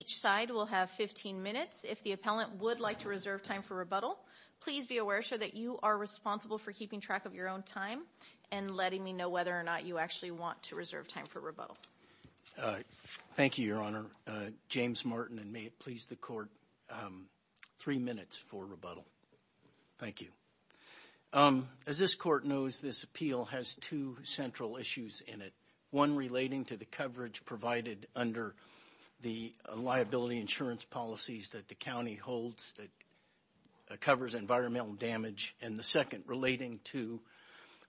Each side will have 15 minutes. If the appellant would like to reserve time for rebuttal, please be aware that you are responsible for keeping track of your own time and letting me know whether or not you actually want to reserve time for rebuttal. Thank you, Your Honor. James Martin, and may it please the Court, three minutes for rebuttal. Thank you. As this Court knows, this appeal has two central issues in it. One relating to the liability insurance policies that the County holds that covers environmental damage. And the second, relating to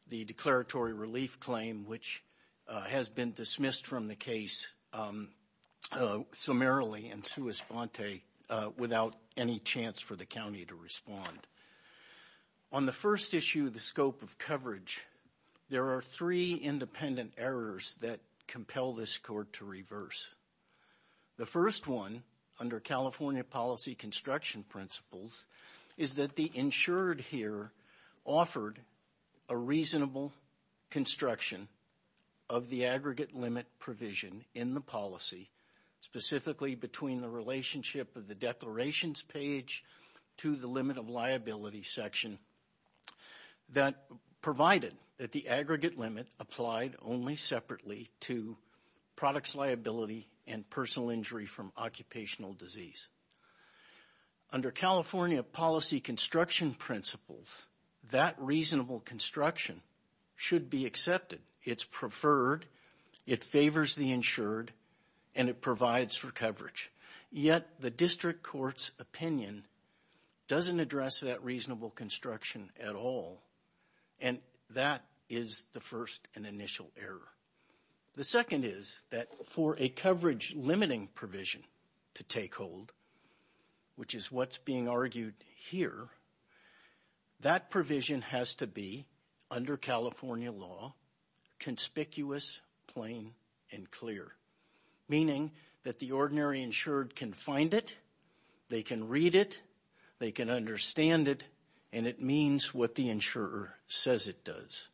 the declaratory relief claim, which has been dismissed from the case summarily and sua sponte, without any chance for the County to respond. On the first issue, the scope of coverage, there are three independent errors that compel this Court to reverse. The first one, under California policy construction principles, is that the insured here offered a reasonable construction of the aggregate limit provision in the policy, specifically between the relationship of the declarations page to the limit of liability section that provided that the aggregate limit applied only separately to products liability and personal injury from occupational disease. Under California policy construction principles, that reasonable construction should be accepted. It's preferred, it favors the insured, and it provides for coverage. Yet, the District Court's opinion doesn't address that reasonable construction at all, and that is the first and initial error. The second is that for a coverage limiting provision to take hold, which is what's being argued here, that provision has to be, under California law, conspicuous, plain, and clear. Meaning that the ordinary insured can find it, they can read it, they can understand it, and it means what the insurer says it does.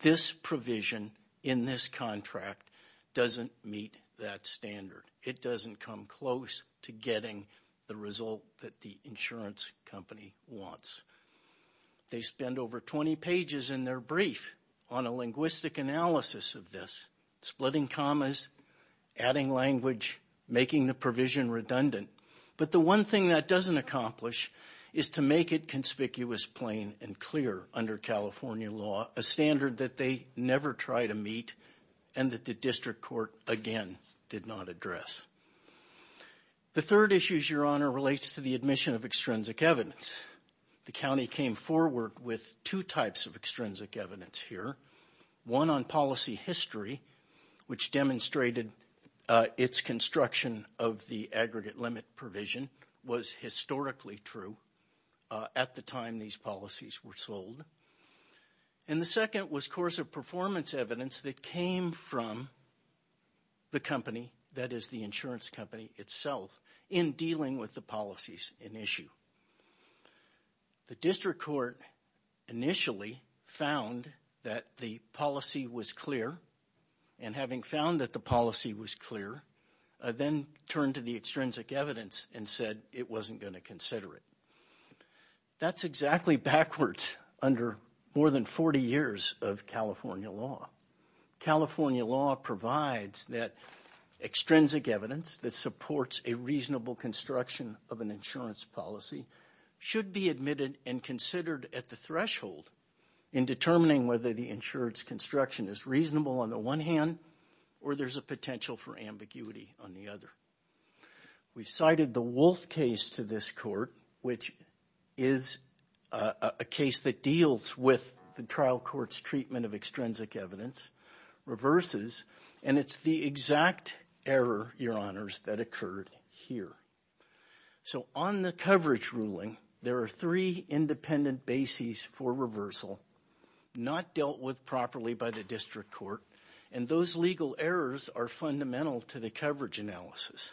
This provision in this contract doesn't meet that standard. It doesn't come close to getting the result that the insurance company wants. They spend over 20 pages in their brief on a linguistic analysis of this, splitting commas, adding language, making the provision redundant. But the one thing that doesn't accomplish is to make it conspicuous, plain, and clear under California law, a standard that they never try to meet and that the District Court, again, did not address. The third issue, Your Honor, relates to the admission of extrinsic evidence. The county came forward with two types of extrinsic evidence here. One on policy history, which demonstrated its construction of the aggregate limit provision was historically true at the time these policies were sold. And the second was course of performance evidence that came from the company, that is the insurance company itself, in dealing with the policies in issue. The District Court initially found that the policy was clear, and having found that the policy was clear, then turned to the extrinsic evidence and said it wasn't going to consider it. That's exactly backwards under more than 40 years of California law. California law provides that extrinsic evidence that supports a reasonable construction of an insurance policy should be admitted and considered at the threshold in determining whether the insurance construction is reasonable on the one hand, or there's a potential for ambiguity on the other. We cited the Wolfe case to this court, which is a case that deals with the trial court's treatment of extrinsic evidence, reverses, and it's the exact error, Your Honors, that occurred here. So on the coverage ruling, there are three independent bases for reversal, not dealt with properly by the District Court, and those legal errors are fundamental to the coverage analysis.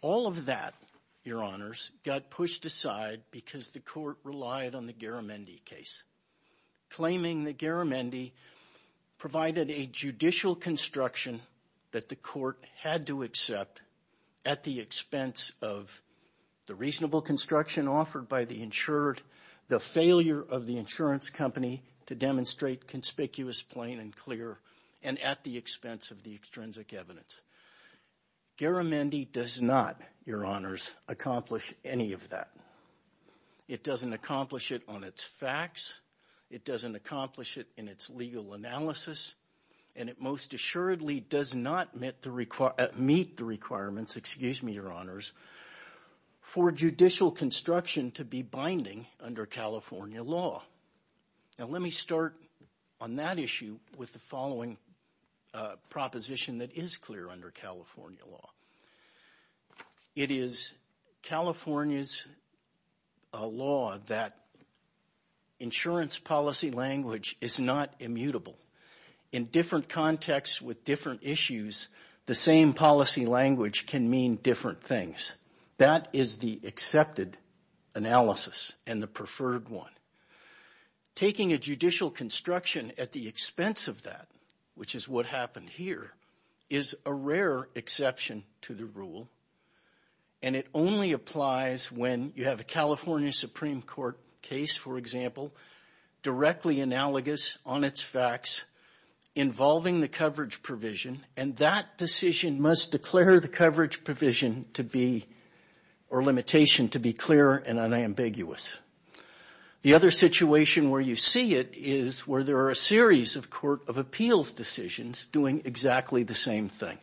All of that, Your Honors, got pushed aside because the court relied on the Garamendi case, claiming that Garamendi provided a judicial construction that the court had to accept at the expense of the reasonable construction offered by the insured, the failure of the insurance company to demonstrate conspicuous, plain, and clear, and at the expense of the extrinsic evidence. Garamendi does not, Your Honors, accomplish any of that. It doesn't accomplish it on its facts, it doesn't accomplish it in its legal analysis, and it most assuredly does not meet the requirements, excuse me, Your Honors, for judicial construction to be binding under California law. Now let me start on that issue with the following proposition that is clear under California law. It is California's law that insurance policy language is not immutable. In different contexts with different issues, the same policy language can mean different things. That is the accepted analysis and the preferred one. Taking a judicial construction at the expense of that, which is what happened here, is a rare exception to the rule, and it only applies when you have a California Supreme Court case, for example, directly analogous on its facts, involving the coverage provision, and that decision must declare the coverage provision to be, or limitation, to be clear and unambiguous. The other situation where you see it is where there are a series of Court of Appeals decisions doing exactly the same thing.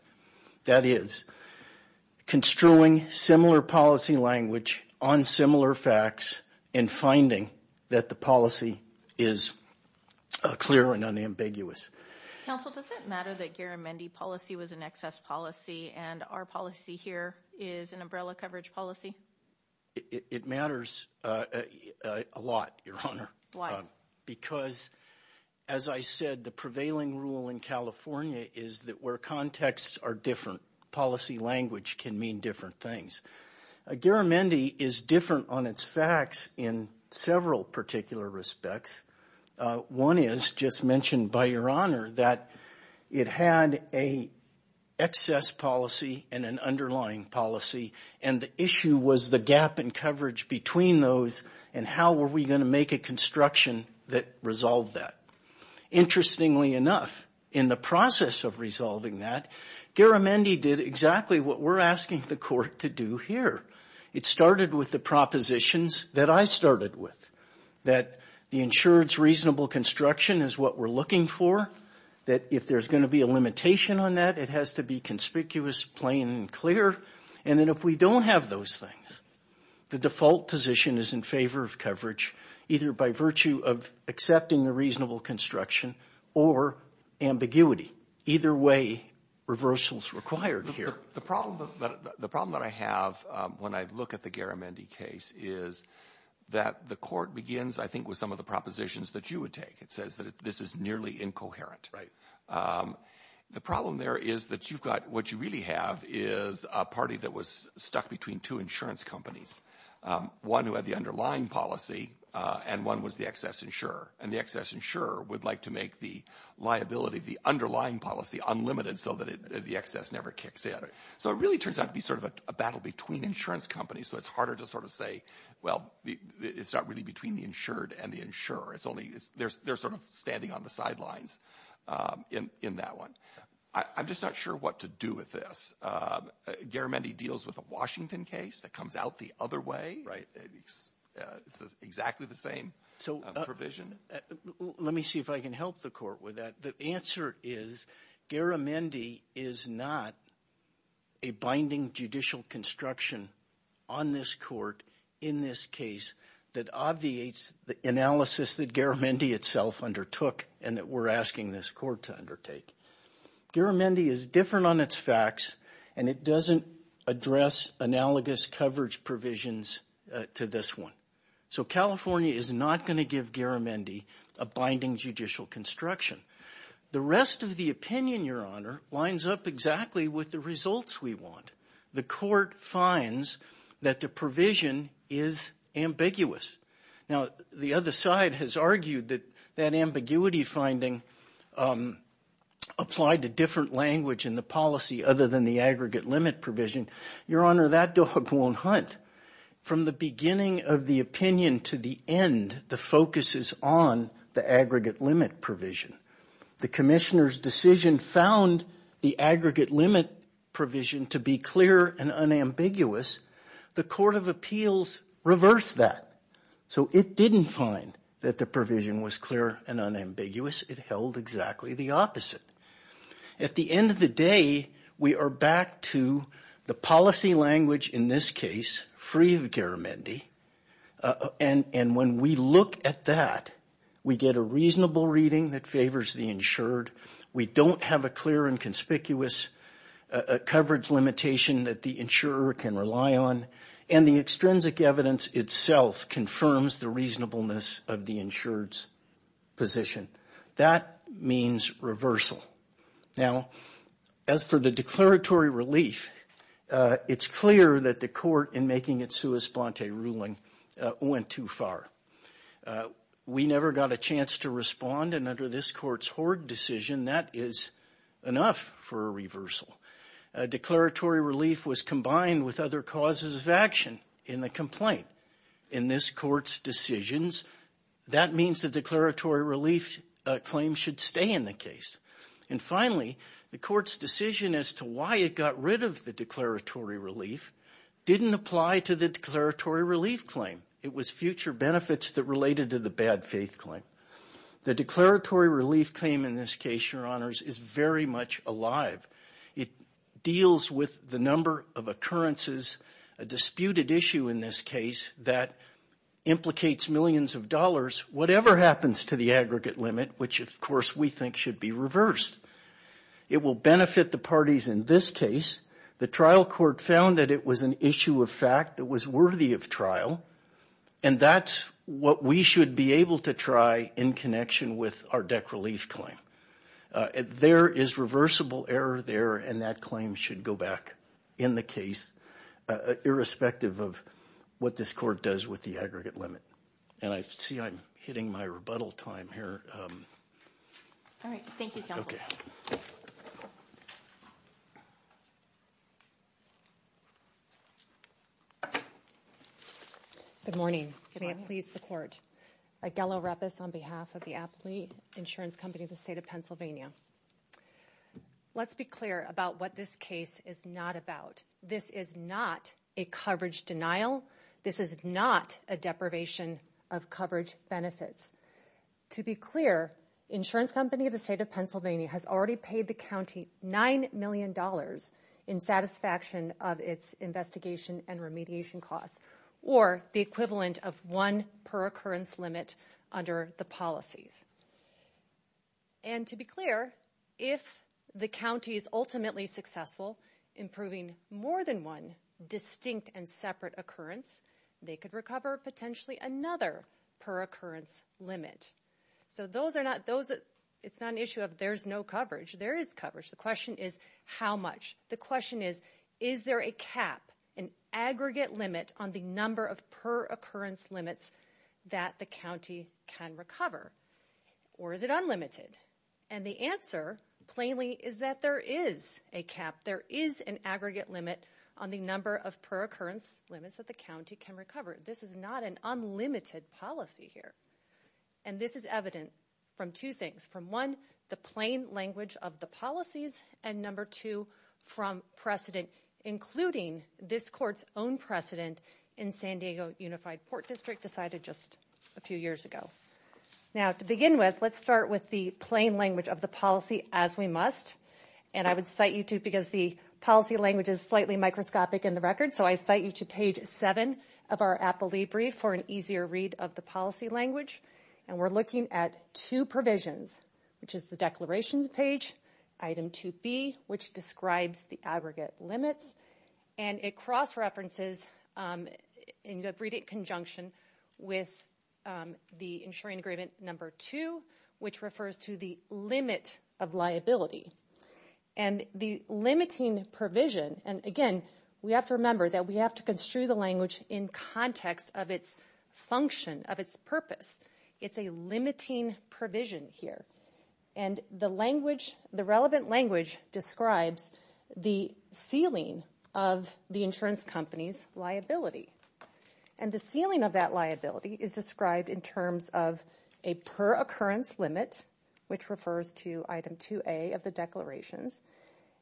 That is, construing similar policy language on similar facts and finding that the policy is clear and unambiguous. Counsel, does it matter that Garamendi policy was an excess policy and our policy here is an umbrella coverage policy? It matters a lot, Your Honor. Why? Because, as I said, the prevailing rule in California is that where contexts are different, policy language can mean different things. Garamendi is different on its facts in several particular respects. One is, just mentioned by Your Honor, that it had an excess policy and an underlying policy, and the issue was the gap in coverage between those and how were we going to construction that resolved that. Interestingly enough, in the process of resolving that, Garamendi did exactly what we're asking the Court to do here. It started with the propositions that I started with, that the insured's reasonable construction is what we're looking for, that if there's going to be a limitation on that, it has to be conspicuous, plain, and clear, and then if we don't have those things, the default position is in favor of coverage, either by virtue of accepting the reasonable construction or ambiguity. Either way, reversal is required here. The problem that I have when I look at the Garamendi case is that the Court begins, I think, with some of the propositions that you would take. It says that this is nearly incoherent. Right. The problem there is that you've got what you really have is a party that was stuck between two insurance companies, one who had the underlying policy, and one was the excess insurer, and the excess insurer would like to make the liability of the underlying policy unlimited so that the excess never kicks in. So it really turns out to be sort of a battle between insurance companies, so it's harder to sort of say, well, it's not really between the insured and the insurer. It's only they're sort of standing on the sidelines in that one. I'm just not sure what to do with this. Garamendi deals with a Washington case that comes out the other way. Right. It's exactly the same provision. Sotomayor. Let me see if I can help the Court with that. The answer is Garamendi is not a binding judicial construction on this Court in this case that obviates the analysis that Garamendi itself undertook and that we're asking this Court to undertake. Garamendi is different on its facts, and it doesn't address analogous coverage provisions to this one. So California is not going to give Garamendi a binding judicial construction. The rest of the opinion, Your Honor, lines up exactly with the results we want. The Court finds that the provision is ambiguous. Now, the other side has argued that that ambiguity finding applied to different language in the policy other than the aggregate limit provision. Your Honor, that dog won't hunt. From the beginning of the opinion to the end, the focus is on the aggregate limit provision. The Commissioner's decision found the aggregate limit provision to be clear and unambiguous. The Court of Appeals reversed that. So it didn't find that the provision was clear and unambiguous. It held exactly the opposite. At the end of the day, we are back to the policy language in this case, free of Garamendi. And when we look at that, we get a reasonable reading that favors the insured. We don't have a clear and conspicuous coverage limitation that the insurer can rely on. And the extrinsic evidence itself confirms the reasonableness of the insured's position. That means reversal. Now, as for the declaratory relief, it's clear that the Court, in making its sua splante ruling, went too far. We never got a chance to respond, and under this Court's Hoard decision, that is enough for a reversal. Declaratory relief was combined with other causes of action in the complaint. In this Court's decisions, that means the declaratory relief claim should stay in the case. And finally, the Court's decision as to why it got rid of the declaratory relief didn't apply to the declaratory relief claim. It was future benefits that related to the bad faith claim. The declaratory relief claim, in this case, Your Honors, is very much alive. It deals with the number of occurrences, a disputed issue in this case, that implicates millions of dollars, whatever happens to the in this case, the trial court found that it was an issue of fact that was worthy of trial, and that's what we should be able to try in connection with our DEC relief claim. There is reversible error there, and that claim should go back in the case, irrespective of what this Court does with the aggregate limit. And I see I'm hitting my rebuttal time here. All right. Thank you, Counsel. Good morning. May it please the Court. Aguello Repis on behalf of the Apley Insurance Company of the State of Pennsylvania. Let's be clear about what this case is not about. This is not a coverage denial. This is not a deprivation of coverage benefits. To be clear, Insurance Company of the State of Pennsylvania has already paid the county $9 million in satisfaction of its investigation and remediation costs, or the equivalent of one per occurrence limit under the policies. And to be clear, if the county is ultimately successful in proving more than one distinct and separate occurrence, they could recover potentially another per occurrence limit. So those are not, those, it's not an issue of there's no coverage. There is coverage. The question is how much. The question is, is there a cap, an aggregate limit on the number of per occurrence limits that the county can recover? Or is it unlimited? And the answer plainly is that there is a cap. There is an aggregate limit on the number of per occurrence limits that the county can recover. This is not an unlimited policy here. And this is evident from two things. From one, the plain language of the policies. And number two, from precedent, including this court's own precedent in San Diego Unified Port District decided just a few years ago. Now to begin with, let's start with the plain language of the policy as we must. And I would cite you to, because the policy language is slightly microscopic in the record, so I cite you to page seven of our appellee brief for an easier read of the policy language. And we're looking at two provisions, which is the declarations page, item 2B, which describes the aggregate number two, which refers to the limit of liability. And the limiting provision, and again, we have to remember that we have to construe the language in context of its function, of its purpose. It's a limiting provision here. And the language, the relevant language describes the ceiling of the insurance company's liability. And the ceiling of that liability is described in terms of a per-occurrence limit, which refers to item 2A of the declarations.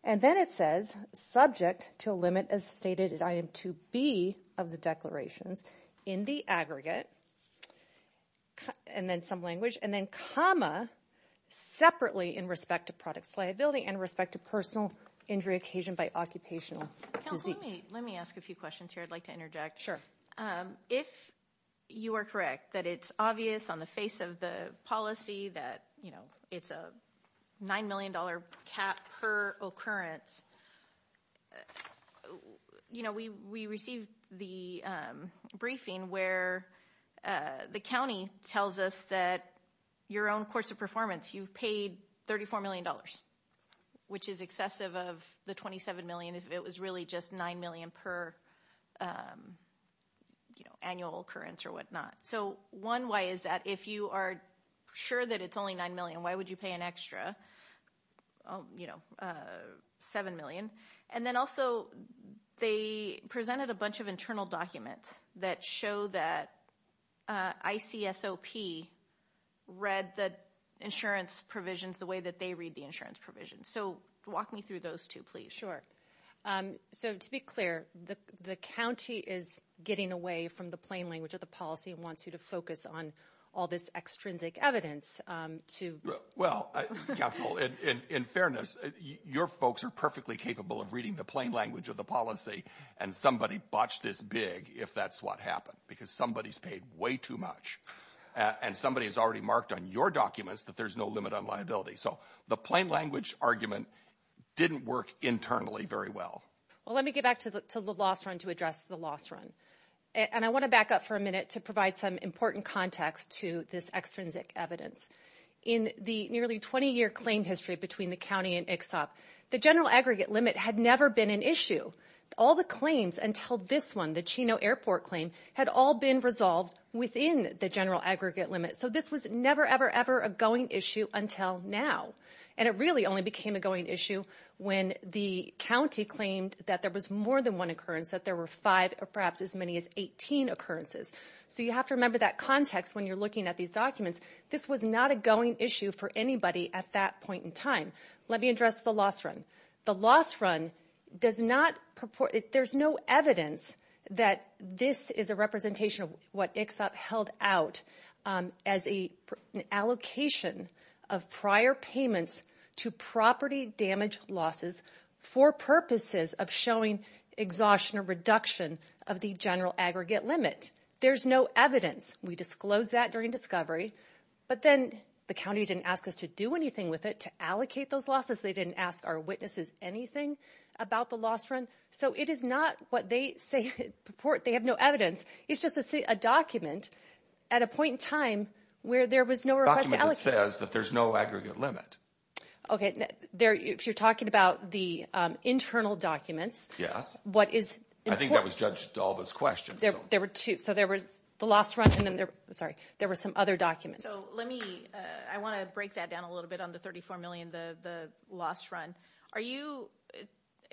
And then it says, subject to a limit as stated in item 2B of the declarations, in the aggregate, and then some language, and then comma, separately in respect to product's liability and respect to personal injury occasioned by occupational disease. Counsel, let me ask a few questions here. I'd like to interject. Sure. If you are correct that it's obvious on the face of the policy that, you know, it's a $9 million cap per occurrence, you know, we received the briefing where the county tells us that your own course of performance, you've paid $34 million, which is excessive of the $27 million if it was really just $9 million per, you know, annual occurrence or whatnot. So one way is that if you are sure that it's only $9 million, why would you pay an extra, you know, $7 million? And then also, they presented a bunch of internal documents that show that ICSOP read the insurance provisions the way that they read the insurance provisions. So walk me through those two, please. Sure. So to be clear, the county is getting away from the plain language of the policy and wants you to focus on all this extrinsic evidence to... Well, counsel, in fairness, your folks are perfectly capable of reading the plain language of the policy, and somebody botched this big if that's what happened, because somebody's paid way too much. And somebody has already marked on your documents that there's no limit on liability. So the plain language argument didn't work internally very well. Well, let me get back to the loss run to address the loss run. And I want to back up for a minute to provide some important context to this extrinsic evidence. In the nearly 20-year claim history between the county and ICSOP, the general aggregate limit had never been an issue. All the claims until this one, the Chino Airport claim, had all been resolved within the general aggregate limit. So this was a going issue until now. And it really only became a going issue when the county claimed that there was more than one occurrence, that there were five or perhaps as many as 18 occurrences. So you have to remember that context when you're looking at these documents. This was not a going issue for anybody at that point in time. Let me address the loss run. The loss run does not... There's no evidence that this is a representation of what ICSOP held out as an allocation of prior payments to property damage losses for purposes of showing exhaustion or reduction of the general aggregate limit. There's no evidence. We disclosed that during discovery, but then the county didn't ask us to do anything with it to allocate those losses. They didn't ask our witnesses anything about the loss run. So it is not what they say... They have no evidence. It's just a document at a point in time where there was no request to allocate. A document that says that there's no aggregate limit. Okay. If you're talking about the internal documents... Yes. What is important... I think that was judged to all those questions. There were two. So there was the loss run and then there... Sorry. There were some other documents. So let me... I want to break that down a little bit on the $34 million, the loss run. Are you...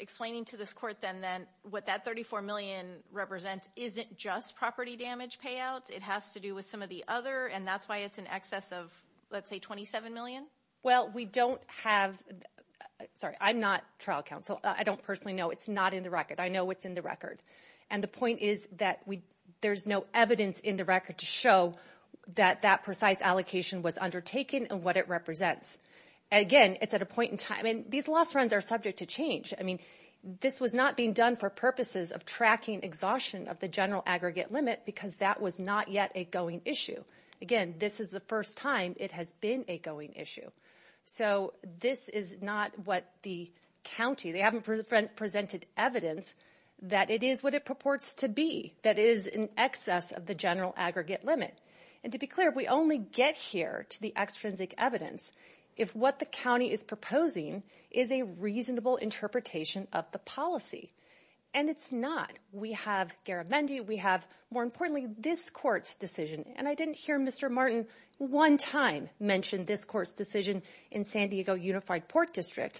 Explaining to this court then that what that $34 million represents isn't just property damage payouts. It has to do with some of the other, and that's why it's in excess of, let's say, $27 million? Well, we don't have... Sorry. I'm not trial counsel. I don't personally know. It's not in the record. I know what's in the record. And the point is that there's no evidence in the record to show that that precise allocation was undertaken and what it represents. Again, it's at a point in time... I mean, these loss runs are subject to change. I mean, this was not being done for purposes of tracking exhaustion of the general aggregate limit because that was not yet a going issue. Again, this is the first time it has been a going issue. So this is not what the county... They haven't presented evidence that it is what it purports to be, that is in excess of the general aggregate limit. And to be clear, we only get here to the evidence if what the county is proposing is a reasonable interpretation of the policy. And it's not. We have Garamendi. We have, more importantly, this court's decision. And I didn't hear Mr. Martin one time mention this court's decision in San Diego Unified Port District,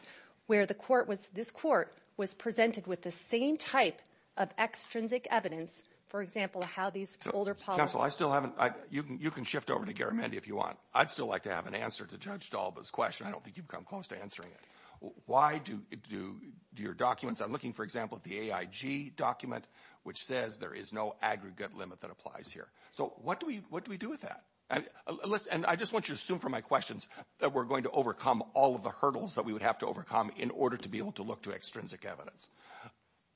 where this court was presented with the same type of extrinsic evidence, for example, how these older policies... Counsel, I still haven't... You can shift over to Garamendi if you want. I'd still like to have an answer to Judge Dalba's question. I don't think you've come close to answering it. Why do your documents... I'm looking, for example, at the AIG document, which says there is no aggregate limit that applies here. So what do we do with that? And I just want you to assume from my questions that we're going to overcome all of the hurdles that we would have to overcome in order to be able to look to extrinsic evidence.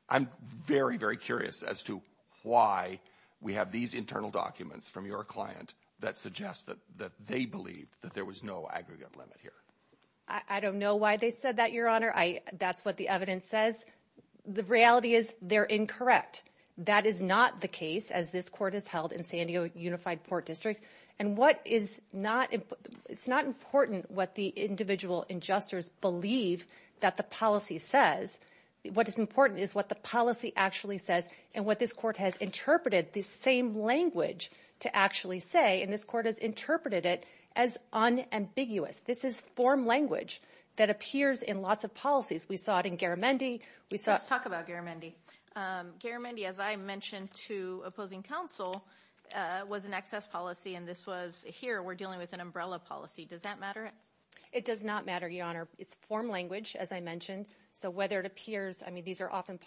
I'm very, very curious as to why we have these internal documents from your client that suggest that they believed that there was no aggregate limit here. I don't know why they said that, Your Honor. That's what the evidence says. The reality is they're incorrect. That is not the case, as this court has held in San Diego Unified Port District. And what is not... It's not important what the individual adjusters believe that the policy says. What is important is what the policy actually says and what this court has interpreted, the same language to actually say, and this court has interpreted it as unambiguous. This is form language that appears in lots of policies. We saw it in Garamendi. We saw... Let's talk about Garamendi. Garamendi, as I mentioned to opposing counsel, was an excess policy and this was... Here, we're dealing with an umbrella policy. Does that matter? It does not matter, Your Honor. It's form language, as I mentioned. So whether it appears... These are often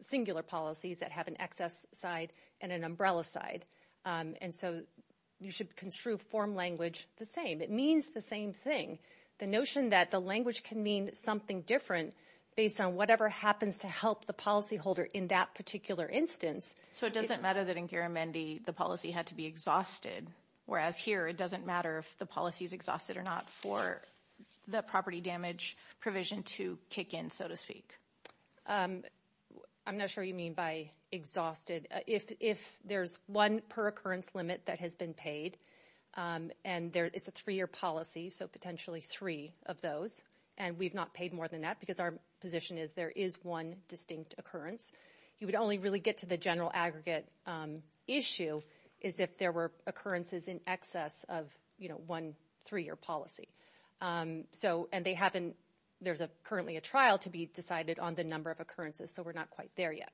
singular policies that have an excess side and an umbrella side. And so you should construe form language the same. It means the same thing. The notion that the language can mean something different based on whatever happens to help the policyholder in that particular instance... So it doesn't matter that in Garamendi, the policy had to be exhausted, whereas here it doesn't matter if the policy is exhausted or not for the property damage provision to kick in, so to speak. I'm not sure you mean by exhausted. If there's one per occurrence limit that has been paid and there is a three-year policy, so potentially three of those, and we've not paid more than that because our position is there is one distinct occurrence, you would only really get to the general aggregate issue is if there were occurrences in excess of one three-year policy. So... And they haven't... There's currently a trial to be decided on the number of occurrences, so we're not quite there yet.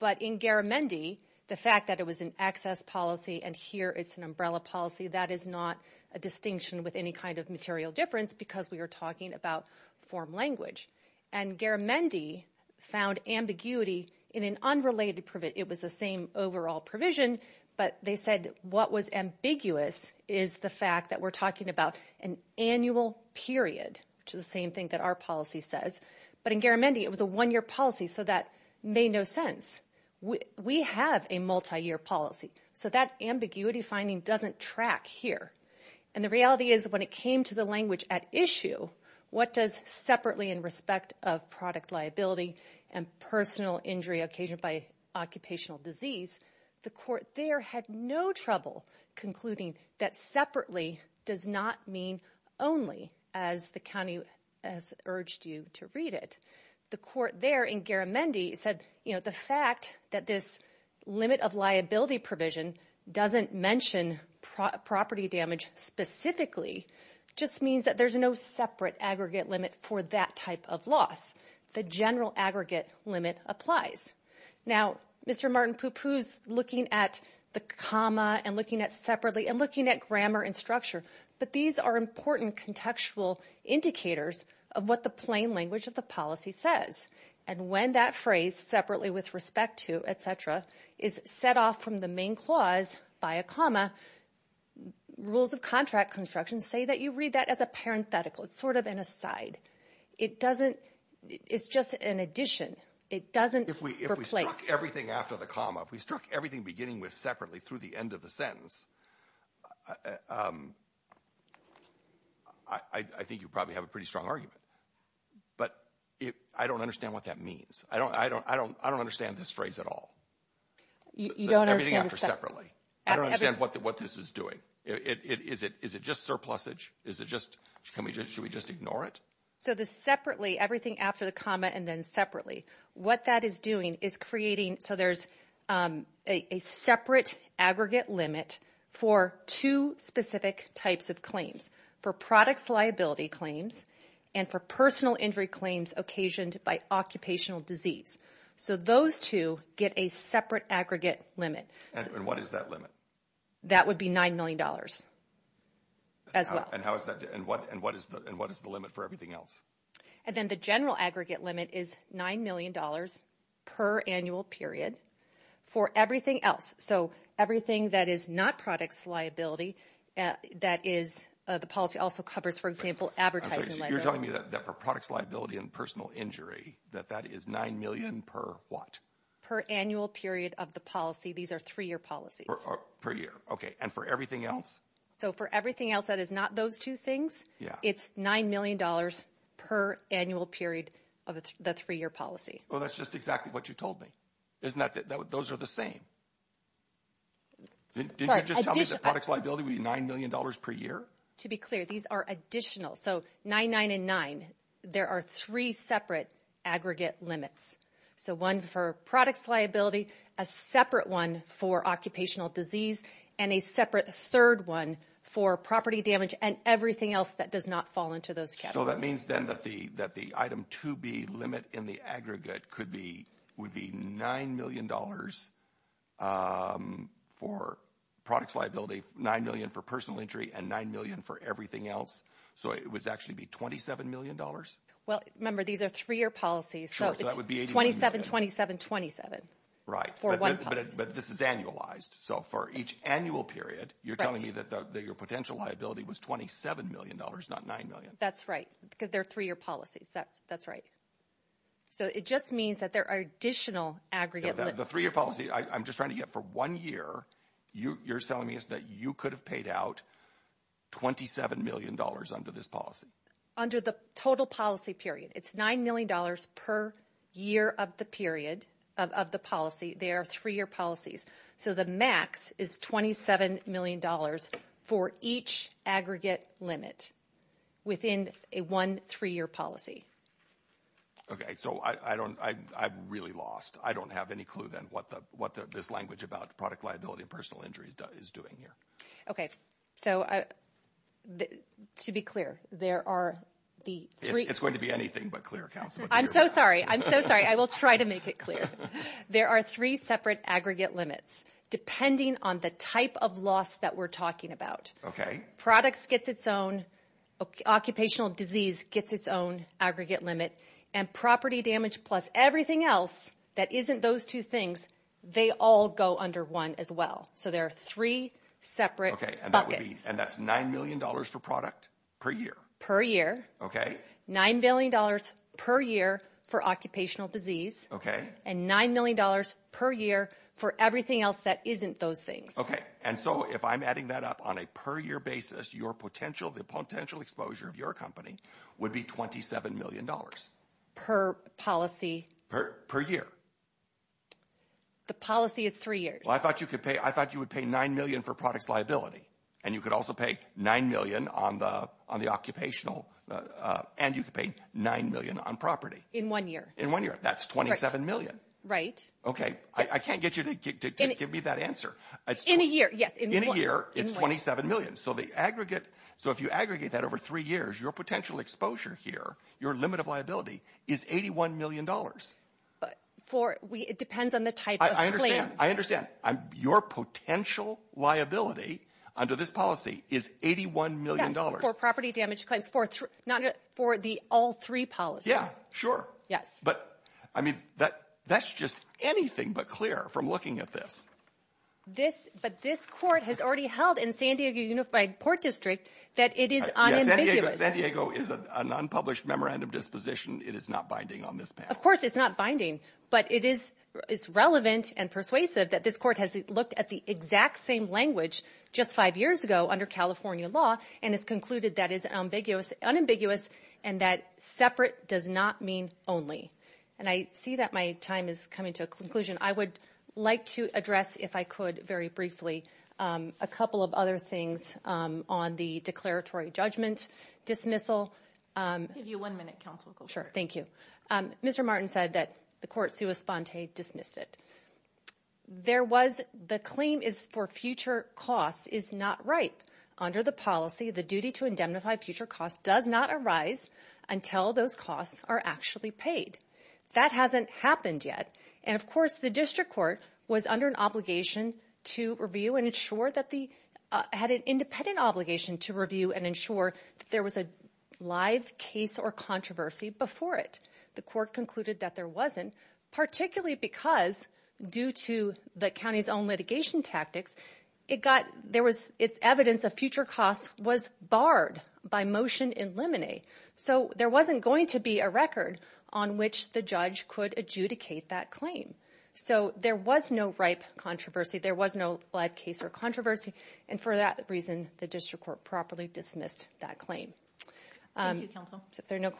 But in Garamendi, the fact that it was an excess policy and here it's an umbrella policy, that is not a distinction with any kind of material difference because we are talking about form language. And Garamendi found ambiguity in an unrelated... It was the same overall provision, but they said what was ambiguous is the fact that we're talking about an annual period, which is the same thing that our policy says. But in Garamendi, it was a one-year policy, so that made no sense. We have a multi-year policy, so that ambiguity finding doesn't track here. And the reality is when it came to the language at issue, what does separately in respect of product liability and personal injury occasioned by occupational disease, the court there had no trouble concluding that separately does not mean only as the county has urged you to read it. The court there in Garamendi said the fact that this limit of liability provision doesn't mention property damage specifically just means that there's no separate aggregate limit for that type of loss. The general aggregate limit applies. Now, Mr. Martin Pupu's looking at the comma and looking at separately and looking at grammar and structure, but these are important contextual indicators of what the plain language of the policy says. And when that phrase separately with respect to, et cetera, is set off from the main clause by a comma, rules of contract construction say that you read that as a parenthetical. It's just an addition. It doesn't replace. If we struck everything after the comma, if we struck everything beginning with separately through the end of the sentence, I think you'd probably have a pretty strong argument. But I don't understand what that means. I don't understand this phrase at all. You don't understand the separate? Everything after separately. I don't understand what this is doing. Is it just surplusage? Should we just ignore it? So the separately, everything after the comma and then separately, what that is doing is creating, so there's a separate aggregate limit for two specific types of claims. For products liability claims and for personal injury claims occasioned by occupational disease. So those two get a separate aggregate limit. And what is that limit? That would be $9 million as well. And what is the limit for everything else? And then the general aggregate limit is $9 million per annual period for everything else. So everything that is not products liability, that is, the policy also covers, for example, advertising liability. You're telling me that for products liability and personal injury, that that is $9 million per what? Per annual period of the policy. These are three-year policies. Per year. Okay. And for everything else? So for everything else that is not those two things, it's $9 million per annual period of the three-year policy. Well, that's just exactly what you told me, isn't it? Those are the same. Didn't you just tell me that products liability would be $9 million per year? To be clear, these are additional. So 999, there are three separate aggregate limits. So one for products liability, a separate one for occupational disease, and a separate third one for property damage and everything else that does not fall into those categories. So that means then that the item 2B limit in the aggregate would be $9 million for products liability, $9 million for personal injury, and $9 million for everything else. So it would actually be $27 million? Well, remember, these are three-year policies. Sure. So that would be $27, $27, $27. Right. For one policy. But this is annualized. So for each annual period, you're telling me that your potential liability was $27 million, not $9 million? That's right. Because they're three-year policies. That's right. So it just means that there are additional aggregate limits. The three-year policy, I'm just trying to get for one year, you're telling me is that you could have paid out $27 million under this policy? Under the total policy period. It's $9 million per year of the period of the policy. They are three-year policies. So the max is $27 million for each aggregate limit within a one three-year policy. Okay. So I really lost. I don't have any clue then what this language about product liability and personal injury is doing here. Okay. So to be clear, there are the three... It's going to be anything but clear, counsel. I'm so sorry. I'm so sorry. I will try to make it clear. There are three separate aggregate limits, depending on the type of loss that we're talking about. Products gets its own, occupational disease gets its own aggregate limit and property damage plus everything else that isn't those two things, they all go under one as well. So there are three separate buckets. And that's $9 million for product per year? Per year. $9 million per year for occupational disease. Okay. And $9 million per year for everything else that isn't those things. Okay. And so if I'm adding that up on a per year basis, your potential, the potential exposure of your company would be $27 million. Per policy. Per year. The policy is three years. Well, I thought you would pay $9 million for products liability. And you could also pay $9 million on the occupational and you could pay $9 million on property. In one year. In one year. That's $27 million. Right. Okay. I can't get you to give me that answer. It's in a year. Yes. In a year, it's $27 million. So the aggregate, so if you aggregate that over three years, your potential exposure here, your limit of liability is $81 million. But for, it depends on the type of claim. I understand. Your potential liability under this policy is $81 million. Yes, for property damage claims, for the all three policies. Yeah, sure. Yes. I mean, that's just anything but clear from looking at this. But this court has already held in San Diego Unified Port District that it is unambiguous. San Diego is an unpublished memorandum disposition. It is not binding on this panel. Of course it's not binding, but it is, it's relevant and persuasive that this court has looked at the exact same language just five years ago under California law. And it's concluded that is unambiguous and that separate does not mean only. And I see that my time is coming to a conclusion. I would like to address, if I could very briefly, a couple of other things on the declaratory judgment dismissal. I'll give you one minute, counsel. Sure. Thank you. Mr. Martin said that the court sua sponte dismissed it. There was the claim is for future costs is not right under the policy. The duty to indemnify future costs does not arise until those costs are actually paid. That hasn't happened yet. And of course, the district court was under an obligation to review and ensure that the had an independent obligation to review and ensure that there was a live case or controversy before it. The court concluded that there wasn't particularly because due to the county's own litigation tactics, it got there was evidence of future costs was barred by motion in limine. So there wasn't going to be a record on which the judge could adjudicate that claim. So there was no ripe controversy. There was no live case or controversy. And for that reason, the district court properly dismissed that claim. Thank you, counsel. If there are no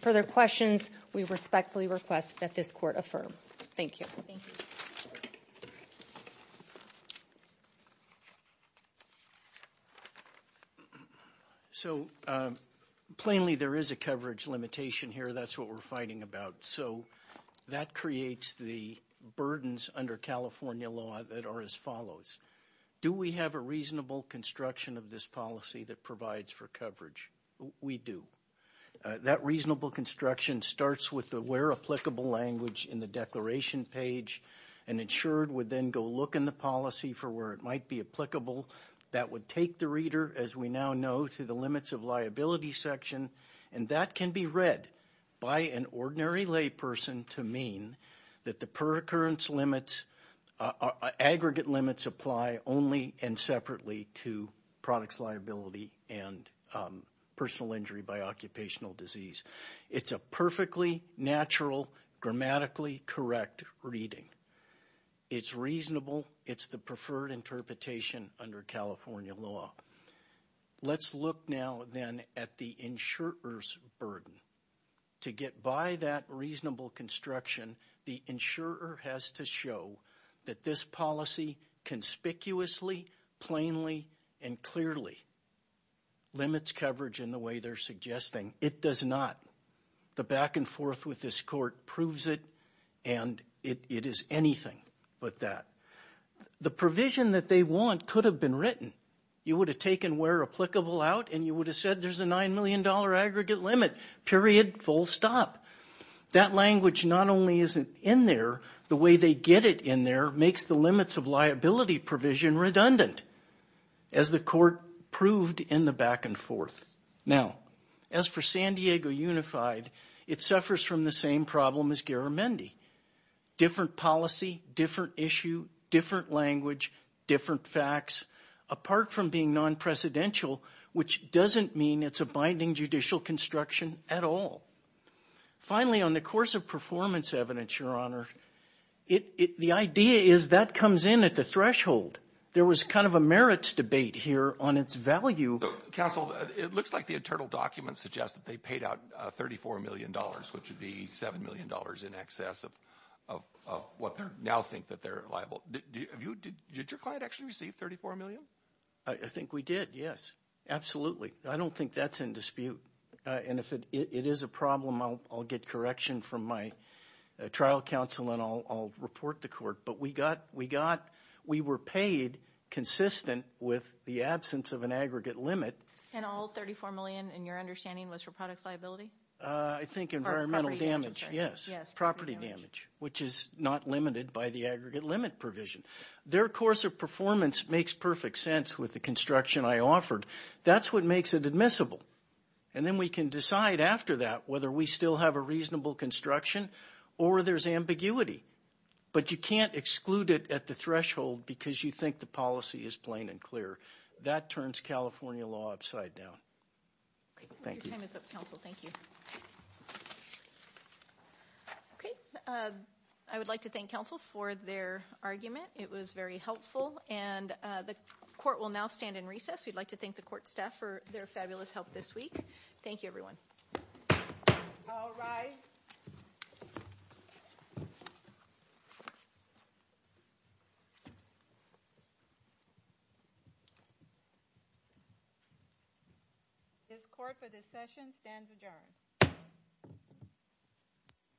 further questions, we respectfully request that this court affirm. Thank you. Thank you. So plainly, there is a coverage limitation here. That's what we're fighting about. So that creates the burdens under California law that are as follows. Do we have a reasonable construction of this policy that provides for coverage? We do that reasonable construction starts with the where applicable language in the declaration page and insured would then go look in the policy for where it might be applicable. That would take the reader, as we now know, to the limits of liability section. And that can be read by an ordinary lay person to mean that the per occurrence limits, aggregate limits apply only and separately to products, liability and personal injury by occupational disease. It's a perfectly natural, grammatically correct reading. It's reasonable. It's the preferred interpretation under California law. Let's look now then at the insurers burden to get by that reasonable construction. The insurer has to show that this policy conspicuously, plainly and clearly. Limits coverage in the way they're suggesting it does not. The back and forth with this court proves it and it is anything but that. The provision that they want could have been written. You would have taken where applicable out and you would have said there's a $9 million aggregate limit, period, full stop. That language not only isn't in there, the way they get it in there makes the limits of liability provision redundant, as the court proved in the back and forth. Now, as for San Diego Unified, it suffers from the same problem as Garamendi. Different policy, different issue, different language, different facts, apart from being non-presidential, which doesn't mean it's a binding judicial construction at all. Finally, on the course of performance evidence, Your Honor, the idea is that comes in at the threshold. There was kind of a merits debate here on its value. Counsel, it looks like the internal documents suggest that they paid out $34 million, which would be $7 million in excess of what they now think that they're liable. Did your client actually receive $34 million? I think we did, yes. Absolutely. I don't think that's in dispute. And if it is a problem, I'll get correction from my trial counsel, and I'll report to But we were paid consistent with the absence of an aggregate limit. And all $34 million, in your understanding, was for products liability? I think environmental damage, yes. Property damage, which is not limited by the aggregate limit provision. Their course of performance makes perfect sense with the construction I offered. That's what makes it admissible. And then we can decide after that whether we still have a reasonable construction or there's ambiguity. But you can't exclude it at the threshold because you think the policy is plain and That turns California law upside down. Thank you. Your time is up, counsel. Thank you. Okay. I would like to thank counsel for their argument. It was very helpful. And the court will now stand in recess. We'd like to thank the court staff for their fabulous help this week. Thank you, everyone. All rise. This court for this session stands adjourned.